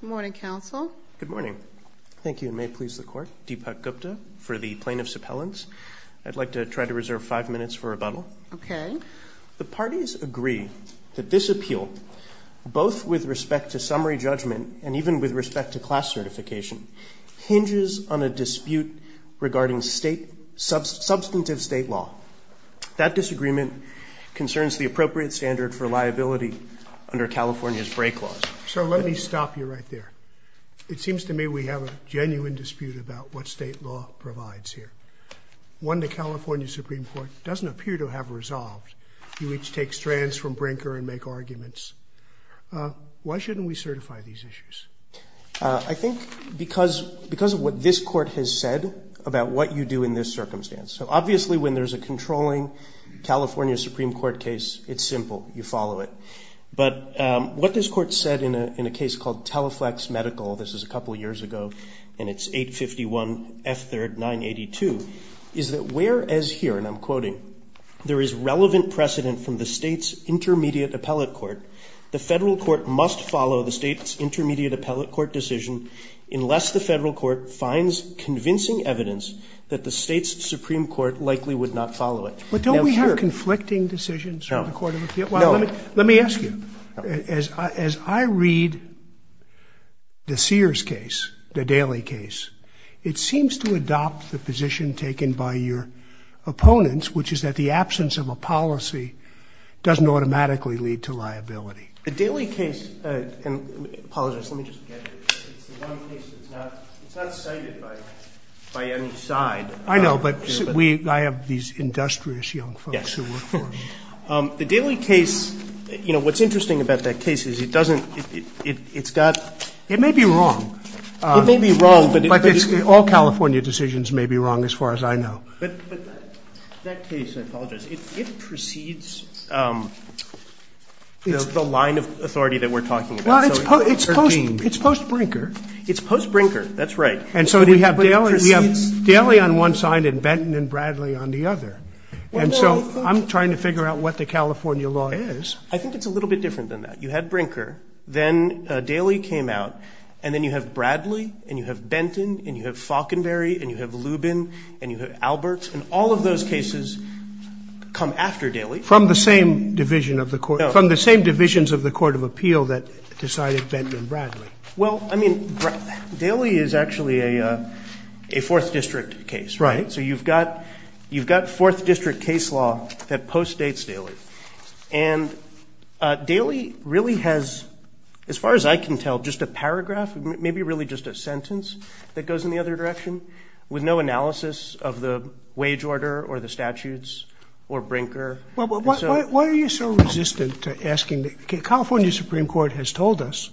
Good morning, Counsel. Good morning. Thank you, and may it please the Court. Deepak Gupta for the Plaintiff's Appellants. I'd like to try to reserve five minutes for rebuttal. Okay. The parties agree that this appeal, both with respect to summary judgment and even with respect to class certification, hinges on a dispute regarding substantive state law. That disagreement concerns the appropriate standard for liability under California's break laws. So let me stop you right there. It seems to me we have a genuine dispute about what state law provides here. One the California Supreme Court doesn't appear to have resolved. You each take strands from Brinker and make arguments. Why shouldn't we certify these issues? I think because of what this Court has said about what you do in this circumstance. So obviously when there's a controlling California Supreme Court case, it's simple. You follow it. But what this Court said in a case called Teleflex Medical, this was a couple years ago, and it's 851 F3rd 982, is that whereas here, and I'm quoting, there is relevant precedent from the state's intermediate appellate court, the federal court must follow the state's intermediate appellate court decision unless the federal court finds convincing evidence that the state's Supreme Court likely would not follow it. But don't we have conflicting decisions from the Court of Appeals? Well, let me ask you, as I read the Sears case, the Daley case, it seems to adopt the position taken by your opponents, which is that the absence of a policy doesn't automatically lead to liability. The Daley case, and apologies, let me just get it. It's the one case that's not cited by any side. I know, but I have these industrious young folks who work for me. The Daley case, you know, what's interesting about that case is it doesn't, it's got. It may be wrong. It may be wrong. But all California decisions may be wrong as far as I know. But that case, I apologize, it precedes the line of authority that we're talking about. Well, it's post Brinker. It's post Brinker, that's right. And so we have Daley on one side and Benton and Bradley on the other. And so I'm trying to figure out what the California law is. I think it's a little bit different than that. You had Brinker. Then Daley came out. And then you have Bradley and you have Benton and you have Faulconberry and you have Lubin and you have Alberts. And all of those cases come after Daley. From the same division of the Court. No. From the same divisions of the Court of Appeal that decided Benton and Bradley. Well, I mean, Daley is actually a Fourth District case, right? Right. So you've got Fourth District case law that postdates Daley. And Daley really has, as far as I can tell, just a paragraph, maybe really just a sentence that goes in the other direction, with no analysis of the wage order or the statutes or Brinker. Why are you so resistant to asking? The California Supreme Court has told us,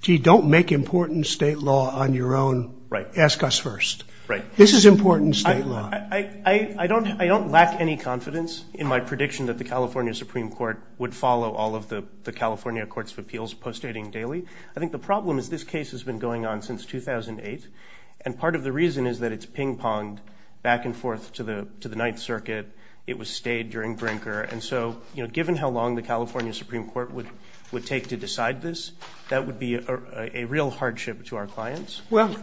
gee, don't make important state law on your own. Right. Ask us first. Right. This is important state law. I don't lack any confidence in my prediction that the California Supreme Court would follow all of the California Courts of Appeals postdating Daley. I think the problem is this case has been going on since 2008. And part of the reason is that it's ping-ponged back and forth to the Ninth Circuit. It was stayed during Brinker. And so, you know, given how long the California Supreme Court would take to decide this, that would be a real hardship to our clients. Well,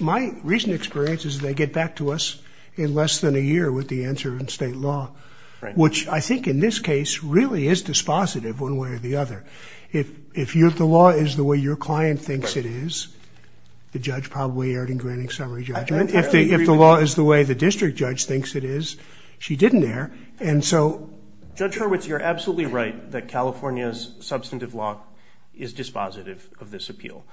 my recent experience is they get back to us in less than a year with the answer in state law, which I think in this case really is dispositive one way or the other. If the law is the way your client thinks it is, the judge probably erred in granting summary judgment. If the law is the way the district judge thinks it is, she didn't err. And so. Judge Hurwitz, you're absolutely right that California's substantive law is dispositive of this appeal.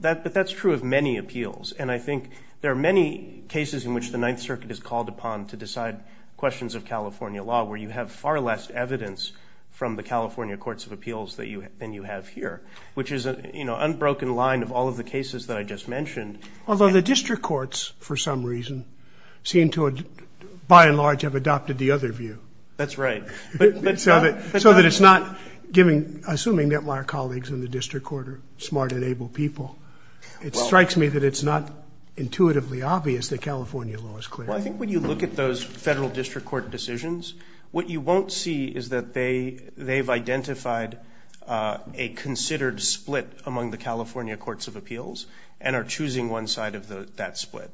But that's true of many appeals. And I think there are many cases in which the Ninth Circuit is called upon to decide questions of California law where you have far less evidence from the California Courts of Appeals than you have here, which is an unbroken line of all of the cases that I just mentioned. Although the district courts, for some reason, seem to by and large have adopted the other view. That's right. So that it's not giving, assuming that my colleagues in the district court are smart and able people, it strikes me that it's not intuitively obvious that California law is clear. Well, I think when you look at those federal district court decisions, what you won't see is that they've identified a considered split among the California Courts of Appeals and are choosing one side of that split.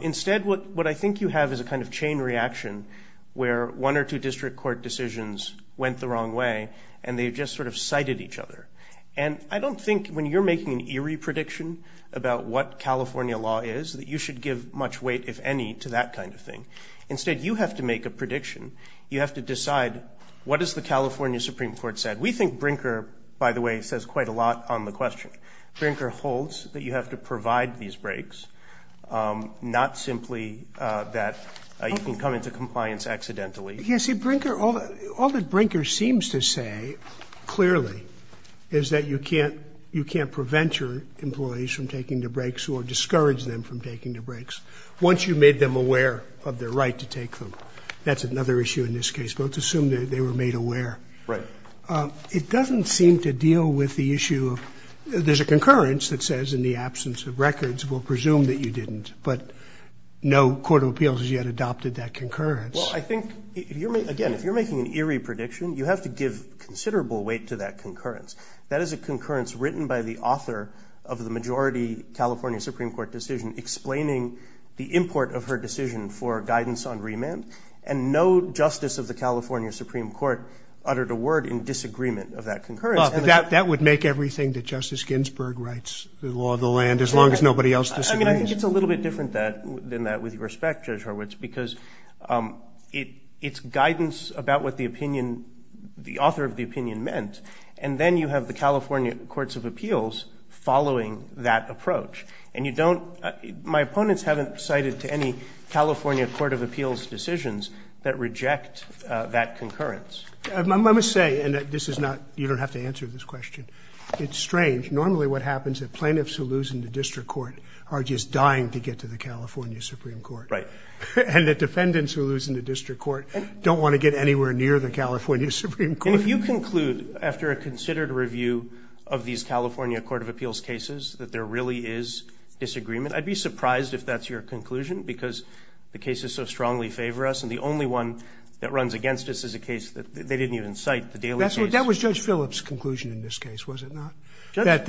Instead, what I think you have is a kind of chain reaction where one or two district court decisions went the wrong way, and they just sort of cited each other. And I don't think when you're making an eerie prediction about what California law is that you should give much weight, if any, to that kind of thing. Instead, you have to make a prediction. You have to decide what has the California Supreme Court said. We think Brinker, by the way, says quite a lot on the question. Brinker holds that you have to provide these breaks, not simply that you can come into compliance accidentally. Yes. See, Brinker, all that Brinker seems to say clearly is that you can't prevent your employees from taking the breaks or discourage them from taking the breaks once you've made them aware of their right to take them. That's another issue in this case, but let's assume that they were made aware. Right. It doesn't seem to deal with the issue of there's a concurrence that says, in the absence of records, we'll presume that you didn't, but no court of appeals has yet adopted that concurrence. Well, I think, again, if you're making an eerie prediction, you have to give considerable weight to that concurrence. That is a concurrence written by the author of the majority California Supreme Court decision explaining the import of her decision for guidance on remand, and no justice of the California Supreme Court uttered a word in disagreement of that concurrence. That would make everything that Justice Ginsburg writes the law of the land, as long as nobody else disagrees. I mean, I think it's a little bit different than that with respect, Judge Horwitz, because it's guidance about what the opinion, the author of the opinion meant, and then you have the California Courts of Appeals following that approach. And you don't, my opponents haven't cited to any California Court of Appeals decisions that reject that concurrence. Let me say, and this is not, you don't have to answer this question. It's strange. Normally what happens is plaintiffs who lose in the district court are just dying to get to the California Supreme Court. Right. And the defendants who lose in the district court don't want to get anywhere near the California Supreme Court. And if you conclude after a considered review of these California Court of Appeals cases that there really is disagreement, I'd be surprised if that's your conclusion, because the cases so strongly favor us, and the only one that runs against us is a case that they didn't even cite, the Daly case. That was Judge Phillips' conclusion in this case, was it not? Judge.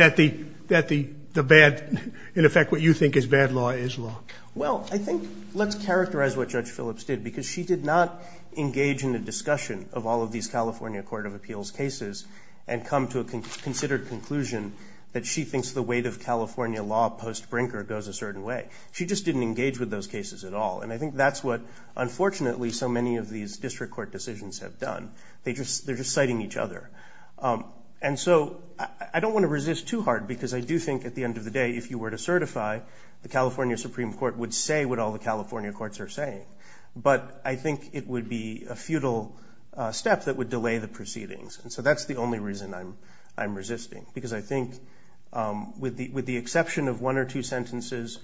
That the bad, in effect, what you think is bad law is law. Well, I think let's characterize what Judge Phillips did, because she did not engage in the discussion of all of these California Court of Appeals cases and come to a considered conclusion that she thinks the weight of California law post-Brinker goes a certain way. She just didn't engage with those cases at all. And I think that's what, unfortunately, so many of these district court decisions have done. They're just citing each other. And so I don't want to resist too hard, because I do think at the end of the day if you were to certify the California Supreme Court would say what all the California courts are saying. But I think it would be a futile step that would delay the proceedings. And so that's the only reason I'm resisting, because I think with the exception of one or two sentences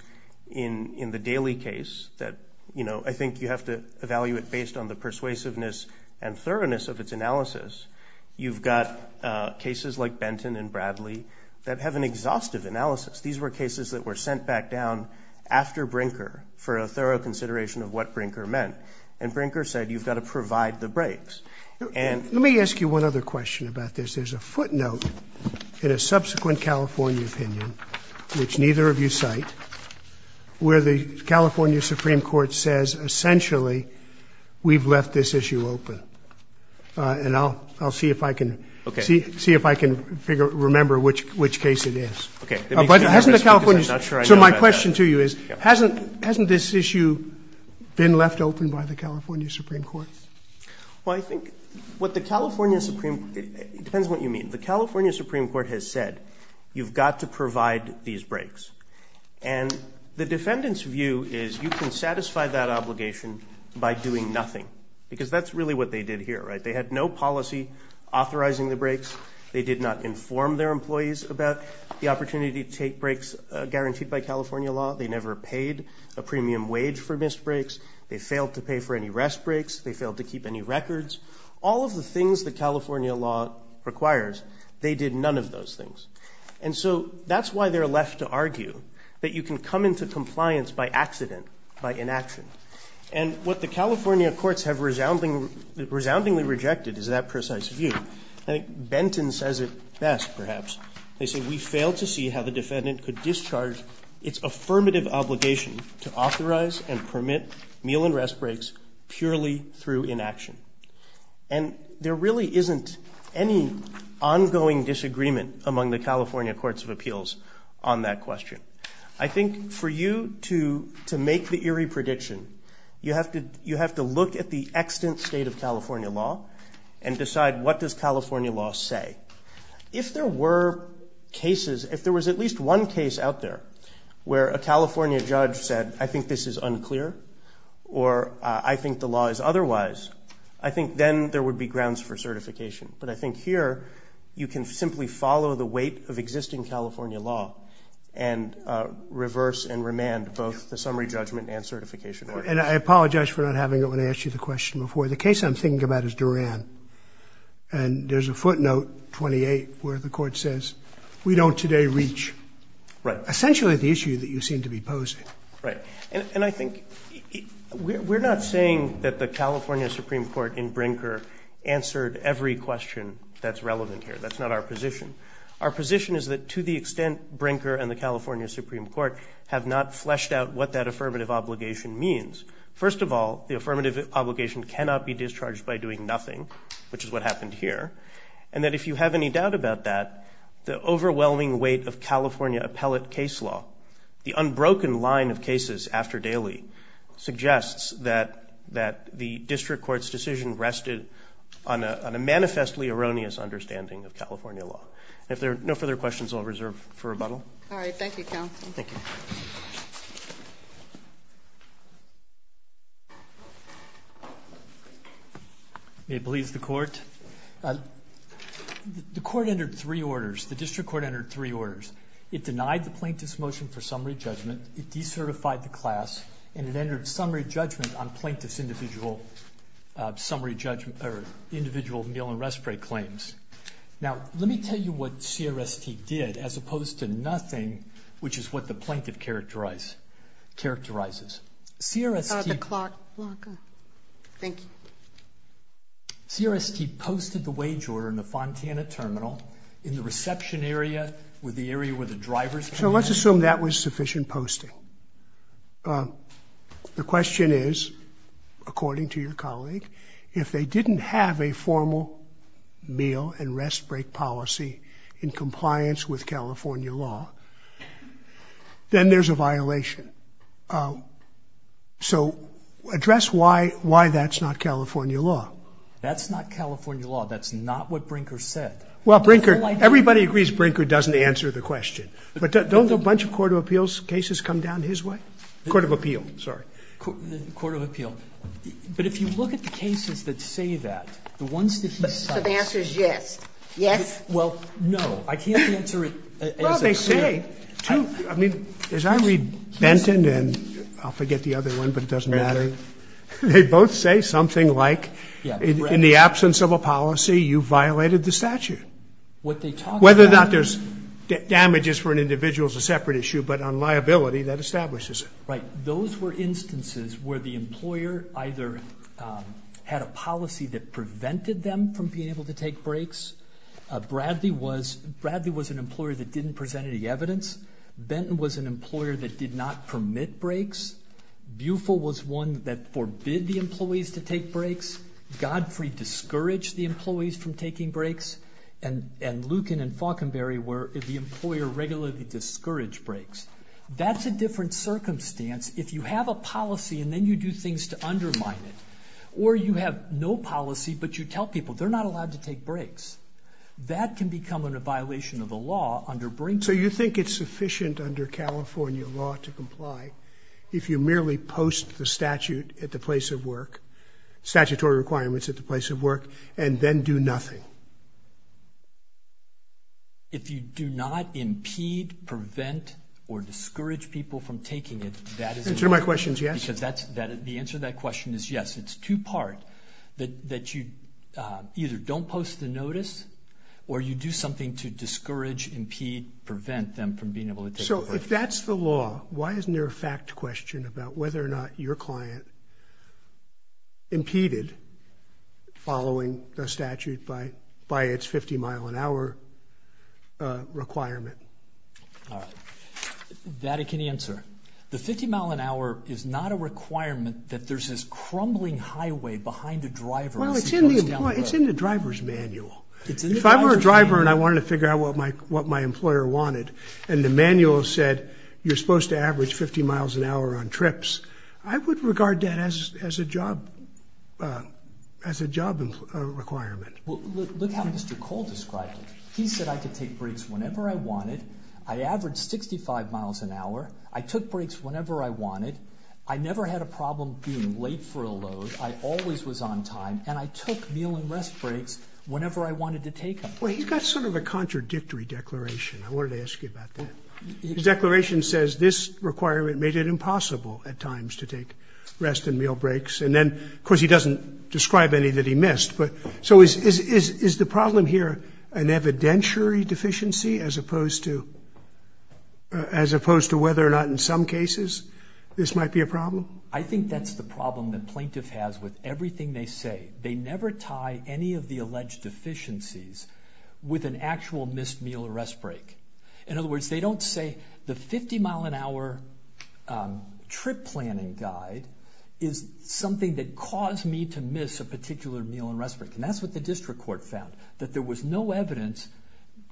in the Daly case that, you know, I think you have to evaluate based on the persuasiveness and thoroughness of its analysis, you've got cases like Benton and Bradley that have an exhaustive analysis. These were cases that were sent back down after Brinker for a thorough consideration of what Brinker meant. And Brinker said you've got to provide the breaks. And let me ask you one other question about this. There's a footnote in a subsequent California opinion, which neither of you cite, where the California Supreme Court says essentially we've left this issue open. And I'll see if I can remember which case it is. So my question to you is, hasn't this issue been left open by the California Supreme Court? Well, I think what the California Supreme Court, it depends on what you mean, the California Supreme Court has said you've got to provide these breaks. And the defendant's view is you can satisfy that obligation by doing nothing, because that's really what they did here, right? They had no policy authorizing the breaks. They did not inform their employees about the opportunity to take breaks guaranteed by California law. They never paid a premium wage for missed breaks. They failed to pay for any rest breaks. They failed to keep any records. All of the things that California law requires, they did none of those things. And so that's why they're left to argue that you can come into compliance by accident, by inaction. And what the California courts have resoundingly rejected is that precise view. I think Benton says it best, perhaps. They say, we fail to see how the defendant could discharge its affirmative obligation to authorize and permit meal and rest breaks purely through inaction. And there really isn't any ongoing disagreement among the California courts of appeals on that question. I think for you to make the eerie prediction, you have to look at the extant state of California law and decide what does California law say. If there were cases, if there was at least one case out there where a California judge said, I think this is unclear or I think the law is otherwise, I think then there would be grounds for certification. But I think here you can simply follow the weight of existing California law and reverse and remand both the summary judgment and certification. And I apologize for not having it when I asked you the question before. The case I'm thinking about is Duran. And there's a footnote 28 where the court says, we don't today reach essentially the issue that you seem to be posing. Right. And I think we're not saying that the California Supreme Court in Brinker answered every question that's relevant here. That's not our position. Our position is that to the extent Brinker and the California Supreme Court have not fleshed out what that affirmative obligation means. First of all, the affirmative obligation cannot be discharged by doing nothing, which is what happened here. And that if you have any doubt about that, the overwhelming weight of California appellate case law, the unbroken line of cases after daily suggests that the district court's decision rested on a manifestly erroneous understanding of California law. If there are no further questions, I'll reserve for rebuttal. All right. Thank you, counsel. Thank you. May it please the court. The court entered three orders. The district court entered three orders. It denied the plaintiff's motion for summary judgment. It decertified the class. And it entered summary judgment on plaintiff's individual meal and respite claims. Now, let me tell you what CRST did as opposed to nothing, which is what the plaintiff characterizes. The clock. Thank you. CRST posted the wage order in the Fontana Terminal in the reception area with the area where the driver's. So let's assume that was sufficient posting. The question is, according to your colleague, if they didn't have a formal meal and rest break policy in compliance with So address why that's not California law. That's not California law. That's not what Brinker said. Well, Brinker, everybody agrees Brinker doesn't answer the question. But don't a bunch of court of appeals cases come down his way? Court of appeal. Sorry. Court of appeal. But if you look at the cases that say that, the ones that he says. So the answer is yes. Yes. Well, no. I can't answer it. I mean, as I read Benton and I'll forget the other one, but it doesn't matter. They both say something like in the absence of a policy, you violated the statute. What they talk, whether or not there's damages for an individual is a separate issue. But on liability that establishes. Right. Those were instances where the employer either had a policy that prevented them from being able to take breaks. Bradley was an employer that didn't present any evidence. Benton was an employer that did not permit breaks. Bufill was one that forbid the employees to take breaks. Godfrey discouraged the employees from taking breaks. And Lucan and Faulconberry were the employer regularly discouraged breaks. That's a different circumstance if you have a policy and then you do things to undermine it. Or you have no policy, but you tell people they're not allowed to take breaks. That can become a violation of the law under Brinkman. So you think it's sufficient under California law to comply if you merely post the statute at the place of work, statutory requirements at the place of work, and then do nothing? If you do not impede, prevent, or discourage people from taking it, that is. The answer to my question is yes. The answer to that question is yes. It's two-part, that you either don't post the notice, or you do something to discourage, impede, prevent them from being able to take a break. So if that's the law, why isn't there a fact question about whether or not your client impeded following the statute by its 50-mile-an-hour requirement? That I can answer. The 50-mile-an-hour is not a requirement that there's this crumbling highway behind a driver. Well, it's in the driver's manual. If I were a driver and I wanted to figure out what my employer wanted, and the manual said you're supposed to average 50 miles an hour on trips, I would regard that as a job requirement. Well, look how Mr. Cole described it. He said I could take breaks whenever I wanted. I averaged 65 miles an hour. I took breaks whenever I wanted. I never had a problem being late for a load. I always was on time. And I took meal and rest breaks whenever I wanted to take them. Well, he's got sort of a contradictory declaration. I wanted to ask you about that. His declaration says this requirement made it impossible at times to take rest and meal breaks. And then, of course, he doesn't describe any that he missed. So is the problem here an evidentiary deficiency as opposed to whether or not in some cases this might be a problem? I think that's the problem the plaintiff has with everything they say. They never tie any of the alleged deficiencies with an actual missed meal or rest break. In other words, they don't say the 50-mile-an-hour trip planning guide is something that caused me to miss a particular meal and rest break. And that's what the district court found, that there was no evidence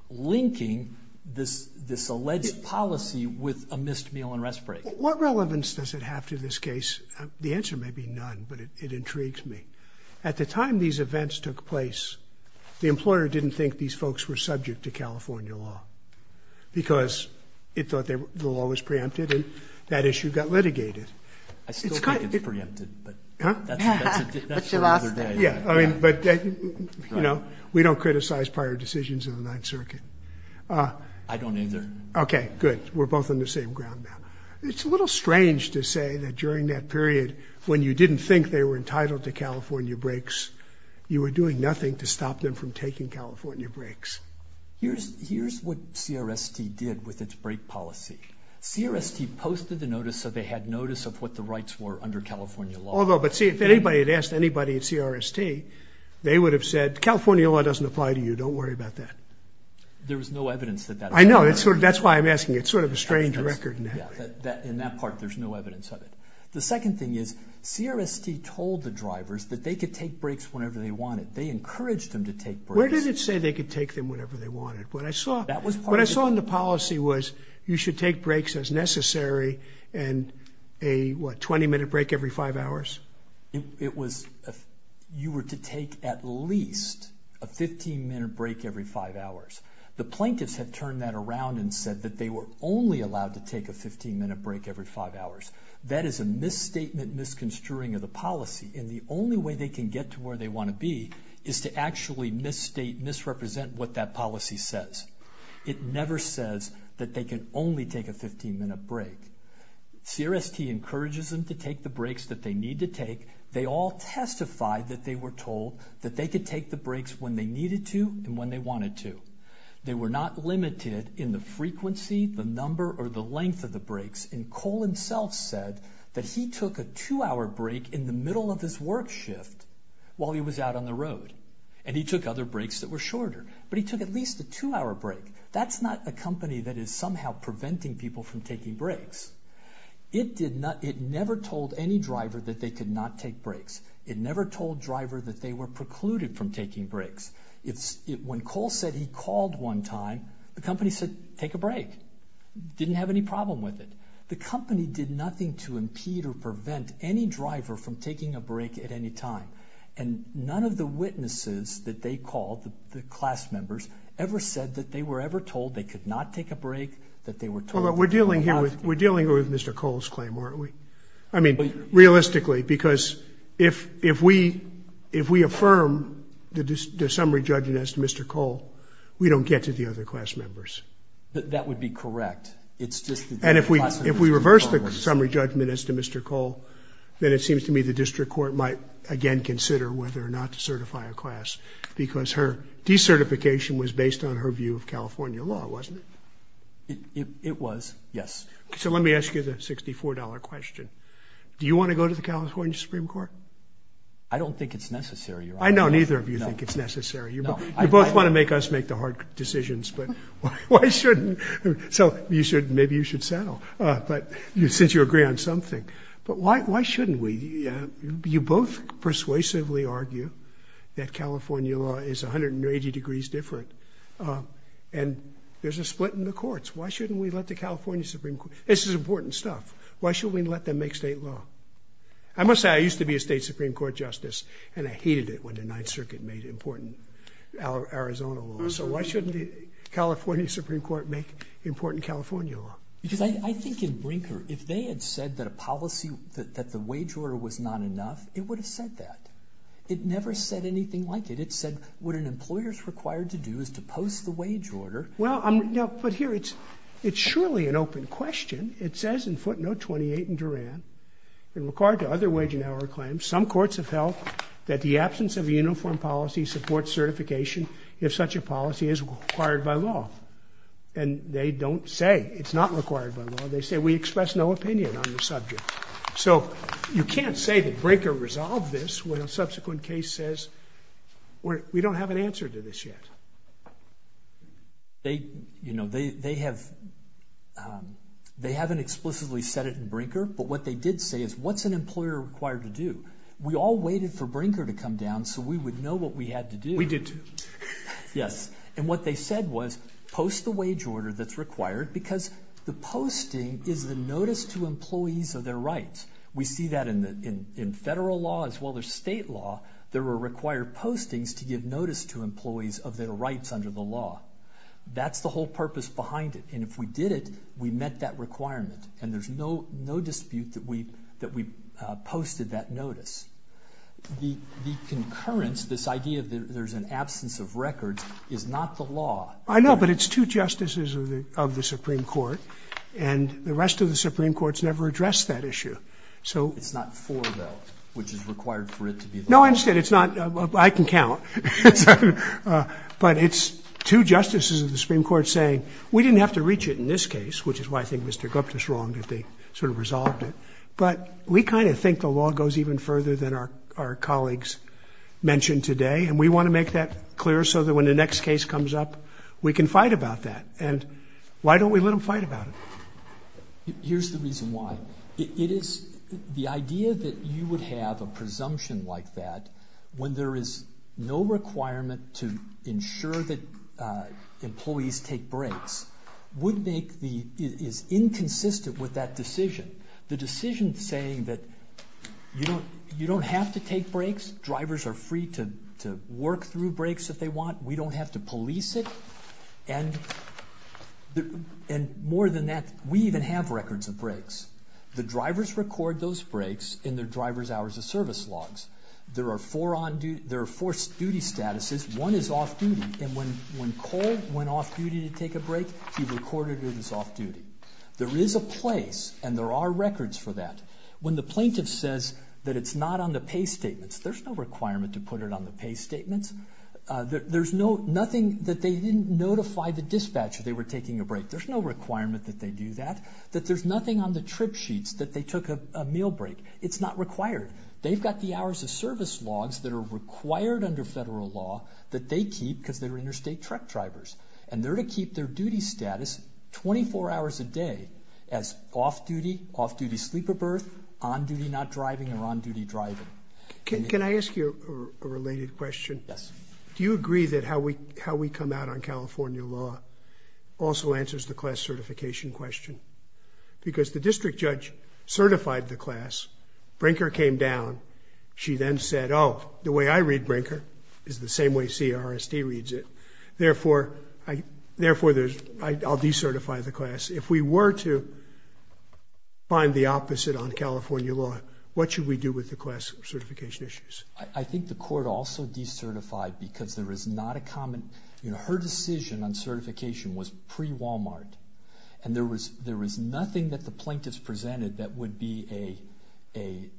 linking this alleged policy with a missed meal and rest break. What relevance does it have to this case? The answer may be none, but it intrigues me. At the time these events took place, the employer didn't think these folks were subject to California law because it thought the law was preempted and that issue got litigated. I still think it's preempted, but that's another day. Yeah, but we don't criticize prior decisions in the Ninth Circuit. I don't either. Okay, good. We're both on the same ground now. It's a little strange to say that during that period when you didn't think they were entitled to California breaks, you were doing nothing to stop them from taking California breaks. Here's what CRST did with its break policy. CRST posted the notice so they had notice of what the rights were under California law. Although, but see, if anybody had asked anybody at CRST, they would have said, California law doesn't apply to you. Don't worry about that. There was no evidence that that was true. I know. That's why I'm asking. It's sort of a strange record. In that part, there's no evidence of it. The second thing is CRST told the drivers that they could take breaks whenever they wanted. They encouraged them to take breaks. Where did it say they could take them whenever they wanted? What I saw in the policy was you should take breaks as necessary and a, what, 20-minute break every five hours? It was you were to take at least a 15-minute break every five hours. The plaintiffs had turned that around and said that they were only allowed to take a 15-minute break every five hours. That is a misstatement, misconstruing of the policy. And the only way they can get to where they want to be is to actually misstate, misrepresent what that policy says. It never says that they can only take a 15-minute break. CRST encourages them to take the breaks that they need to take. They all testified that they were told that they could take the breaks when they needed to and when they wanted to. They were not limited in the frequency, the number, or the length of the breaks. And Cole himself said that he took a two-hour break in the middle of his work shift while he was out on the road. And he took other breaks that were shorter. But he took at least a two-hour break. That's not a company that is somehow preventing people from taking breaks. It never told any driver that they could not take breaks. It never told driver that they were precluded from taking breaks. When Cole said he called one time, the company said, take a break. Didn't have any problem with it. The company did nothing to impede or prevent any driver from taking a break at any time. And none of the witnesses that they called, the class members, ever said that they were ever told they could not take a break, that they were told they were not. We're dealing here with Mr. Cole's claim, aren't we? I mean, realistically, because if we affirm the summary judgment as to Mr. Cole, we don't get to the other class members. That would be correct. And if we reverse the summary judgment as to Mr. Cole, then it seems to me the district court might again consider whether or not to certify a class. Because her decertification was based on her view of California law, wasn't it? It was, yes. So let me ask you the $64 question. Do you want to go to the California Supreme Court? I don't think it's necessary, Your Honor. I know neither of you think it's necessary. You both want to make us make the hard decisions, but why shouldn't? So maybe you should settle, since you agree on something. But why shouldn't we? You both persuasively argue that California law is 180 degrees different, and there's a split in the courts. Why shouldn't we let the California Supreme Court? This is important stuff. Why shouldn't we let them make state law? I must say, I used to be a state Supreme Court justice, and I hated it when the Ninth Circuit made important Arizona law. So why shouldn't the California Supreme Court make important California law? Because I think in Brinker, if they had said that a policy, that the wage order was not enough, it would have said that. It never said anything like it. It said what an employer is required to do is to post the wage order. Well, but here it's surely an open question. It says in footnote 28 in Duran, in regard to other wage and hour claims, some courts have held that the absence of a uniform policy supports certification if such a policy is required by law. And they don't say it's not required by law. They say we express no opinion on the subject. So you can't say that Brinker resolved this when a subsequent case says we don't have an answer to this yet. They haven't explicitly said it in Brinker, but what they did say is what's an employer required to do? We all waited for Brinker to come down so we would know what we had to do. We did, too. Yes. And what they said was post the wage order that's required because the posting is the notice to employees of their rights. We see that in federal law as well as state law. There are required postings to give notice to employees of their rights under the law. That's the whole purpose behind it. And if we did it, we met that requirement, and there's no dispute that we posted that notice. The concurrence, this idea that there's an absence of records, is not the law. I know, but it's two justices of the Supreme Court, and the rest of the Supreme Courts never addressed that issue. It's not four, though, which is required for it to be the law. No, I understand. It's not. I can count. But it's two justices of the Supreme Court saying we didn't have to reach it in this case, which is why I think Mr. Gupta is wrong that they sort of resolved it. But we kind of think the law goes even further than our colleagues mentioned today, and we want to make that clear so that when the next case comes up, we can fight about that. And why don't we let them fight about it? Here's the reason why. It is the idea that you would have a presumption like that when there is no requirement to ensure that employees take breaks. It is inconsistent with that decision. The decision saying that you don't have to take breaks. Drivers are free to work through breaks if they want. We don't have to police it. And more than that, we even have records of breaks. The drivers record those breaks in their driver's hours of service logs. There are four duty statuses. One is off duty, and when Cole went off duty to take a break, he recorded it as off duty. There is a place, and there are records for that. When the plaintiff says that it's not on the pay statements, there's no requirement to put it on the pay statements. There's nothing that they didn't notify the dispatcher they were taking a break. There's no requirement that they do that. There's nothing on the trip sheets that they took a meal break. It's not required. They've got the hours of service logs that are required under federal law that they keep because they're interstate truck drivers. And they're to keep their duty status 24 hours a day as off duty, off duty sleeper berth, on duty not driving, or on duty driving. Can I ask you a related question? Yes. Do you agree that how we come out on California law also answers the class certification question? Because the district judge certified the class. Brinker came down. She then said, oh, the way I read Brinker is the same way CRSD reads it. Therefore, I'll decertify the class. If we were to find the opposite on California law, what should we do with the class certification issues? I think the court also decertified because there is not a common, you know, her decision on certification was pre-Walmart. And there was nothing that the plaintiffs presented that would be a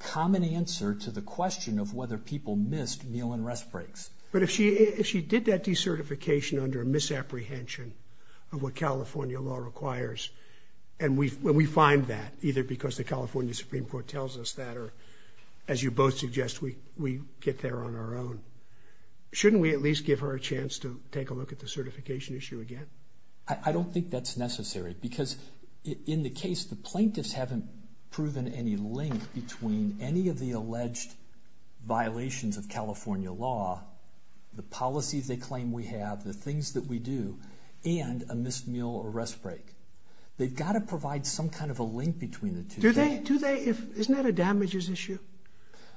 common answer to the question of whether people missed meal and rest breaks. But if she did that decertification under a misapprehension of what California law requires, and we find that either because the California Supreme Court tells us that or, as you both suggest, we get there on our own, shouldn't we at least give her a chance to take a look at the certification issue again? I don't think that's necessary. Because in the case, the plaintiffs haven't proven any link between any of the alleged violations of California law, the policies they claim we have, the things that we do, and a missed meal or rest break. They've got to provide some kind of a link between the two. Isn't that a damages issue?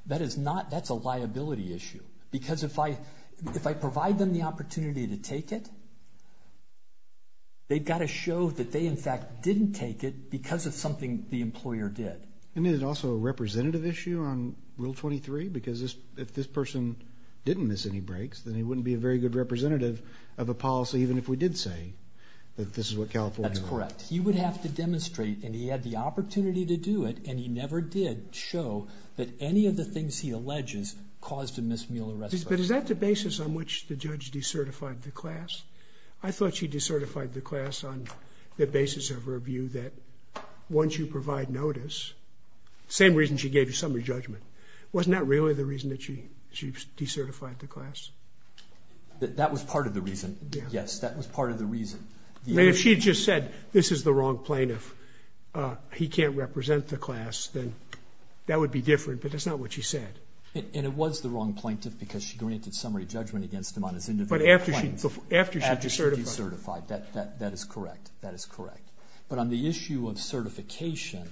That is not. That's a liability issue. Because if I provide them the opportunity to take it, they've got to show that they, in fact, didn't take it because of something the employer did. And is it also a representative issue on Rule 23? Because if this person didn't miss any breaks, then he wouldn't be a very good representative of a policy, even if we did say that this is what California law. That's correct. But he would have to demonstrate, and he had the opportunity to do it, and he never did show that any of the things he alleges caused a missed meal or rest break. But is that the basis on which the judge decertified the class? I thought she decertified the class on the basis of her view that once you provide notice, same reason she gave you summary judgment. Wasn't that really the reason that she decertified the class? That was part of the reason. Yes, that was part of the reason. If she had just said, this is the wrong plaintiff, he can't represent the class, then that would be different. But that's not what she said. And it was the wrong plaintiff because she granted summary judgment against him on his individual claims. But after she decertified. After she decertified. That is correct. That is correct. But on the issue of certification,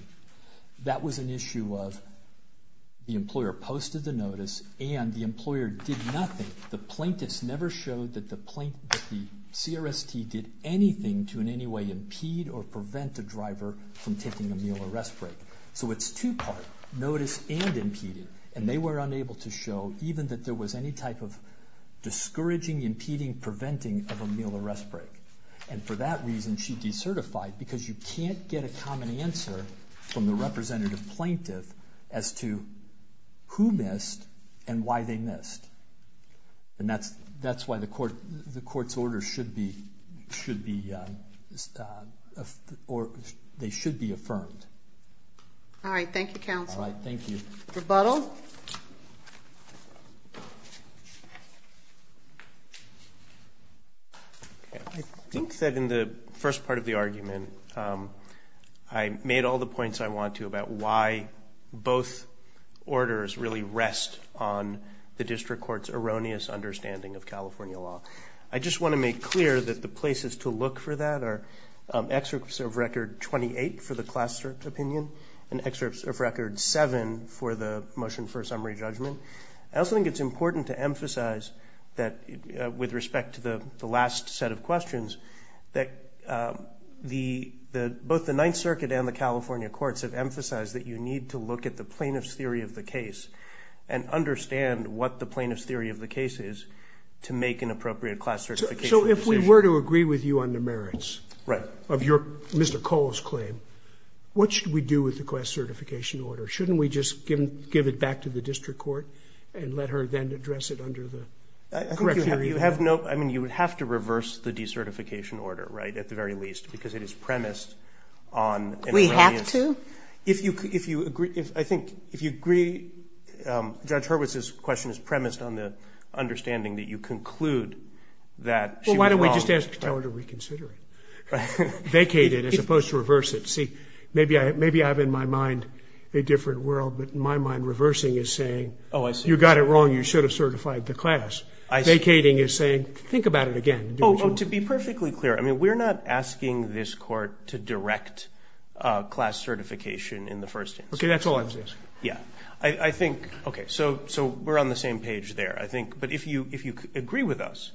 that was an issue of the employer posted the notice and the employer did nothing. The plaintiffs never showed that the CRST did anything to in any way impede or prevent the driver from taking a meal or rest break. So it's two-part. Notice and impeded. And they were unable to show even that there was any type of discouraging, impeding, preventing of a meal or rest break. And for that reason, she decertified because you can't get a common answer from the representative plaintiff as to who missed and why they missed. And that's why the court's order should be, they should be affirmed. All right. Thank you, counsel. All right. Thank you. Rebuttal. Rebuttal. I think that in the first part of the argument, I made all the points I want to about why both orders really rest on the district court's erroneous understanding of California law. I just want to make clear that the places to look for that are excerpts of Record 28 for the Class Circuit Opinion and excerpts of Record 7 for the Motion for a Summary Judgment. I also think it's important to emphasize that with respect to the last set of questions that both the Ninth Circuit and the California courts have emphasized that you need to look at the plaintiff's theory of the case and understand what the plaintiff's theory of the case is to make an appropriate class certification decision. So if we were to agree with you on the merits of your, Mr. Cole's claim, what should we do with the class certification order? Shouldn't we just give it back to the district court and let her then address it under the correct hearing? I think you have no, I mean, you would have to reverse the decertification order, right, at the very least, because it is premised on an erroneous. We have to? Well, if you agree, I think if you agree, Judge Hurwitz's question is premised on the understanding that you conclude that she was wrong. Well, why don't we just tell her to reconsider it, vacate it as opposed to reverse it? See, maybe I have in my mind a different world, but in my mind reversing is saying you got it wrong, you should have certified the class. Vacating is saying think about it again. Oh, to be perfectly clear, I mean, we're not asking this court to direct class certification in the first instance. Okay, that's all I was asking. Yeah, I think, okay, so we're on the same page there, I think. But if you agree with us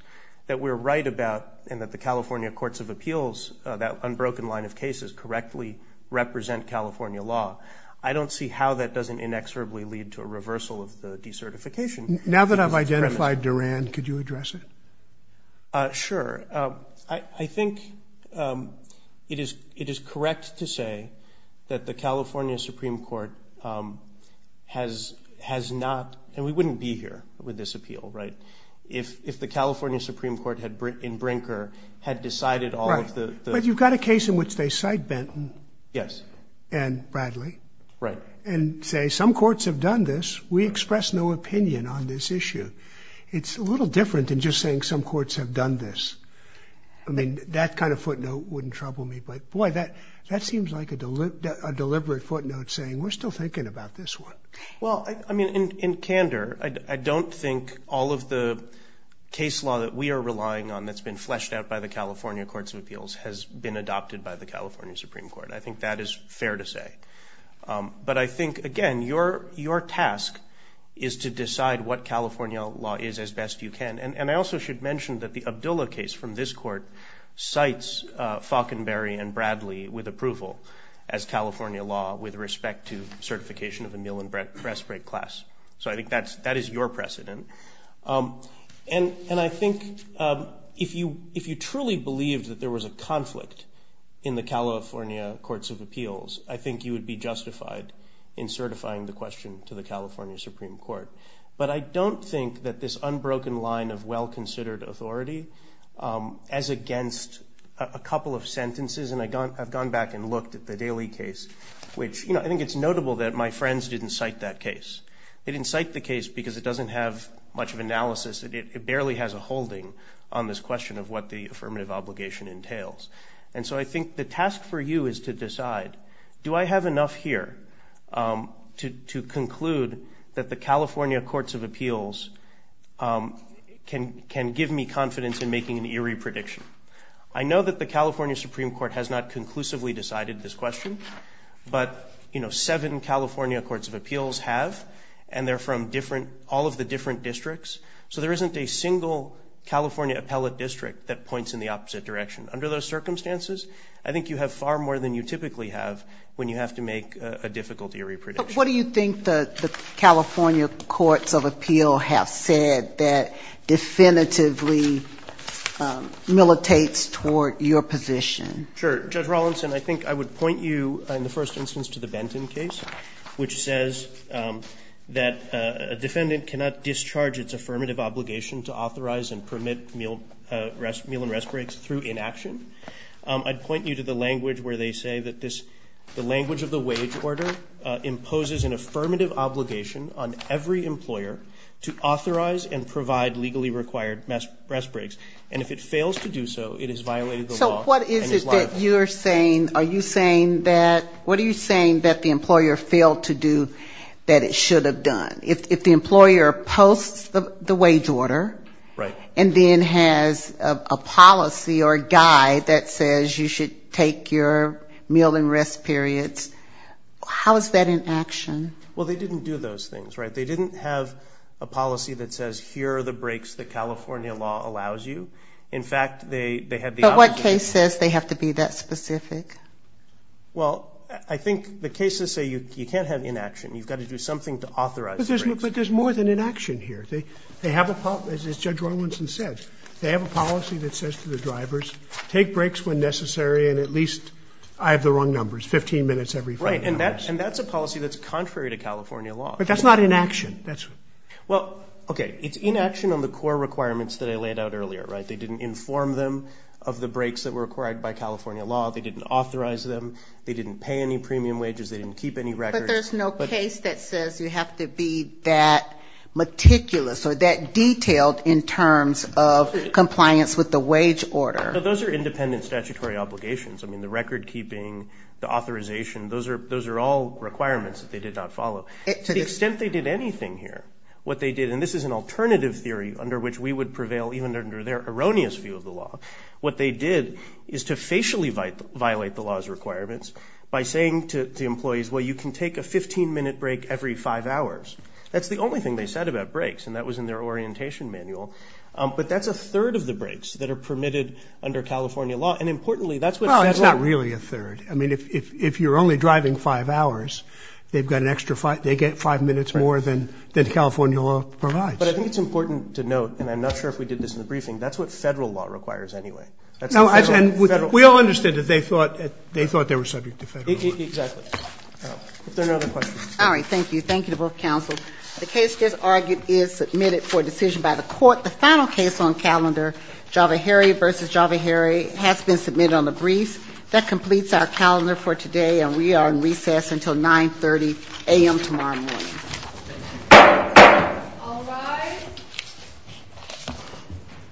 that we're right about and that the California Courts of Appeals, that unbroken line of cases, correctly represent California law, I don't see how that doesn't inexorably lead to a reversal of the decertification. Now that I've identified Duran, could you address it? Sure. I think it is correct to say that the California Supreme Court has not, and we wouldn't be here with this appeal, right, if the California Supreme Court in Brinker had decided all of the- Right, but you've got a case in which they cite Benton. Yes. And Bradley. Right. And say some courts have done this, we express no opinion on this issue. It's a little different than just saying some courts have done this. I mean, that kind of footnote wouldn't trouble me. But, boy, that seems like a deliberate footnote saying we're still thinking about this one. Well, I mean, in candor, I don't think all of the case law that we are relying on that's been fleshed out by the California Courts of Appeals has been adopted by the California Supreme Court. I think that is fair to say. But I think, again, your task is to decide what California law is as best you can. And I also should mention that the Abdullah case from this court cites Faulconberry and Bradley with approval as California law with respect to certification of a meal and breast break class. So I think that is your precedent. And I think if you truly believed that there was a conflict in the California Courts of Appeals, I think you would be justified in certifying the question to the California Supreme Court. But I don't think that this unbroken line of well-considered authority, as against a couple of sentences, and I've gone back and looked at the Daley case, which, you know, I think it's notable that my friends didn't cite that case. They didn't cite the case because it doesn't have much of analysis. It barely has a holding on this question of what the affirmative obligation entails. And so I think the task for you is to decide, do I have enough here to conclude that the California Courts of Appeals can give me confidence in making an eerie prediction? I know that the California Supreme Court has not conclusively decided this question, but, you know, seven California Courts of Appeals have, and they're from all of the different districts. So there isn't a single California appellate district that points in the opposite direction. Under those circumstances, I think you have far more than you typically have when you have to make a difficult eerie prediction. But what do you think the California Courts of Appeal have said that definitively militates toward your position? Sure. Judge Rawlinson, I think I would point you in the first instance to the Benton case, which says that a defendant cannot discharge its affirmative obligation to authorize and permit meal and rest breaks through inaction. I'd point you to the language where they say that the language of the wage order imposes an affirmative obligation on every employer to authorize and provide legally required rest breaks. So what is it that you're saying, are you saying that, what are you saying that the employer failed to do that it should have done? If the employer posts the wage order and then has a policy or a guide that says you should take your meal and rest periods, how is that inaction? Well, they didn't do those things, right? They didn't have a policy that says here are the breaks that California law allows you. But what case says they have to be that specific? Well, I think the cases say you can't have inaction, you've got to do something to authorize the breaks. But there's more than inaction here. They have a policy, as Judge Rawlinson said, they have a policy that says to the drivers, take breaks when necessary and at least I have the wrong numbers, 15 minutes every five hours. Right, and that's a policy that's contrary to California law. But that's not inaction. Well, okay, it's inaction on the core requirements that I laid out earlier, right? They didn't inform them of the breaks that were required by California law. They didn't authorize them. They didn't pay any premium wages. They didn't keep any records. But there's no case that says you have to be that meticulous or that detailed in terms of compliance with the wage order. Those are independent statutory obligations. I mean, the record keeping, the authorization, those are all requirements that they did not follow. To the extent they did anything here, what they did, and this is an alternative theory under which we would prevail even under their erroneous view of the law, what they did is to facially violate the law's requirements by saying to employees, well, you can take a 15-minute break every five hours. That's the only thing they said about breaks, and that was in their orientation manual. But that's a third of the breaks that are permitted under California law. And importantly, that's what it says. Well, that's not really a third. I mean, if you're only driving five hours, they get five minutes more than California law provides. But I think it's important to note, and I'm not sure if we did this in the briefing, that's what Federal law requires anyway. We all understand that they thought they were subject to Federal law. Exactly. If there are no other questions. All right. Thank you. Thank you to both counsels. The case just argued is submitted for decision by the court. The final case on calendar, Java Herry v. Java Herry, has been submitted on the brief. That completes our calendar for today, and we are in recess until 930 a.m. tomorrow morning. Thank you. All rise.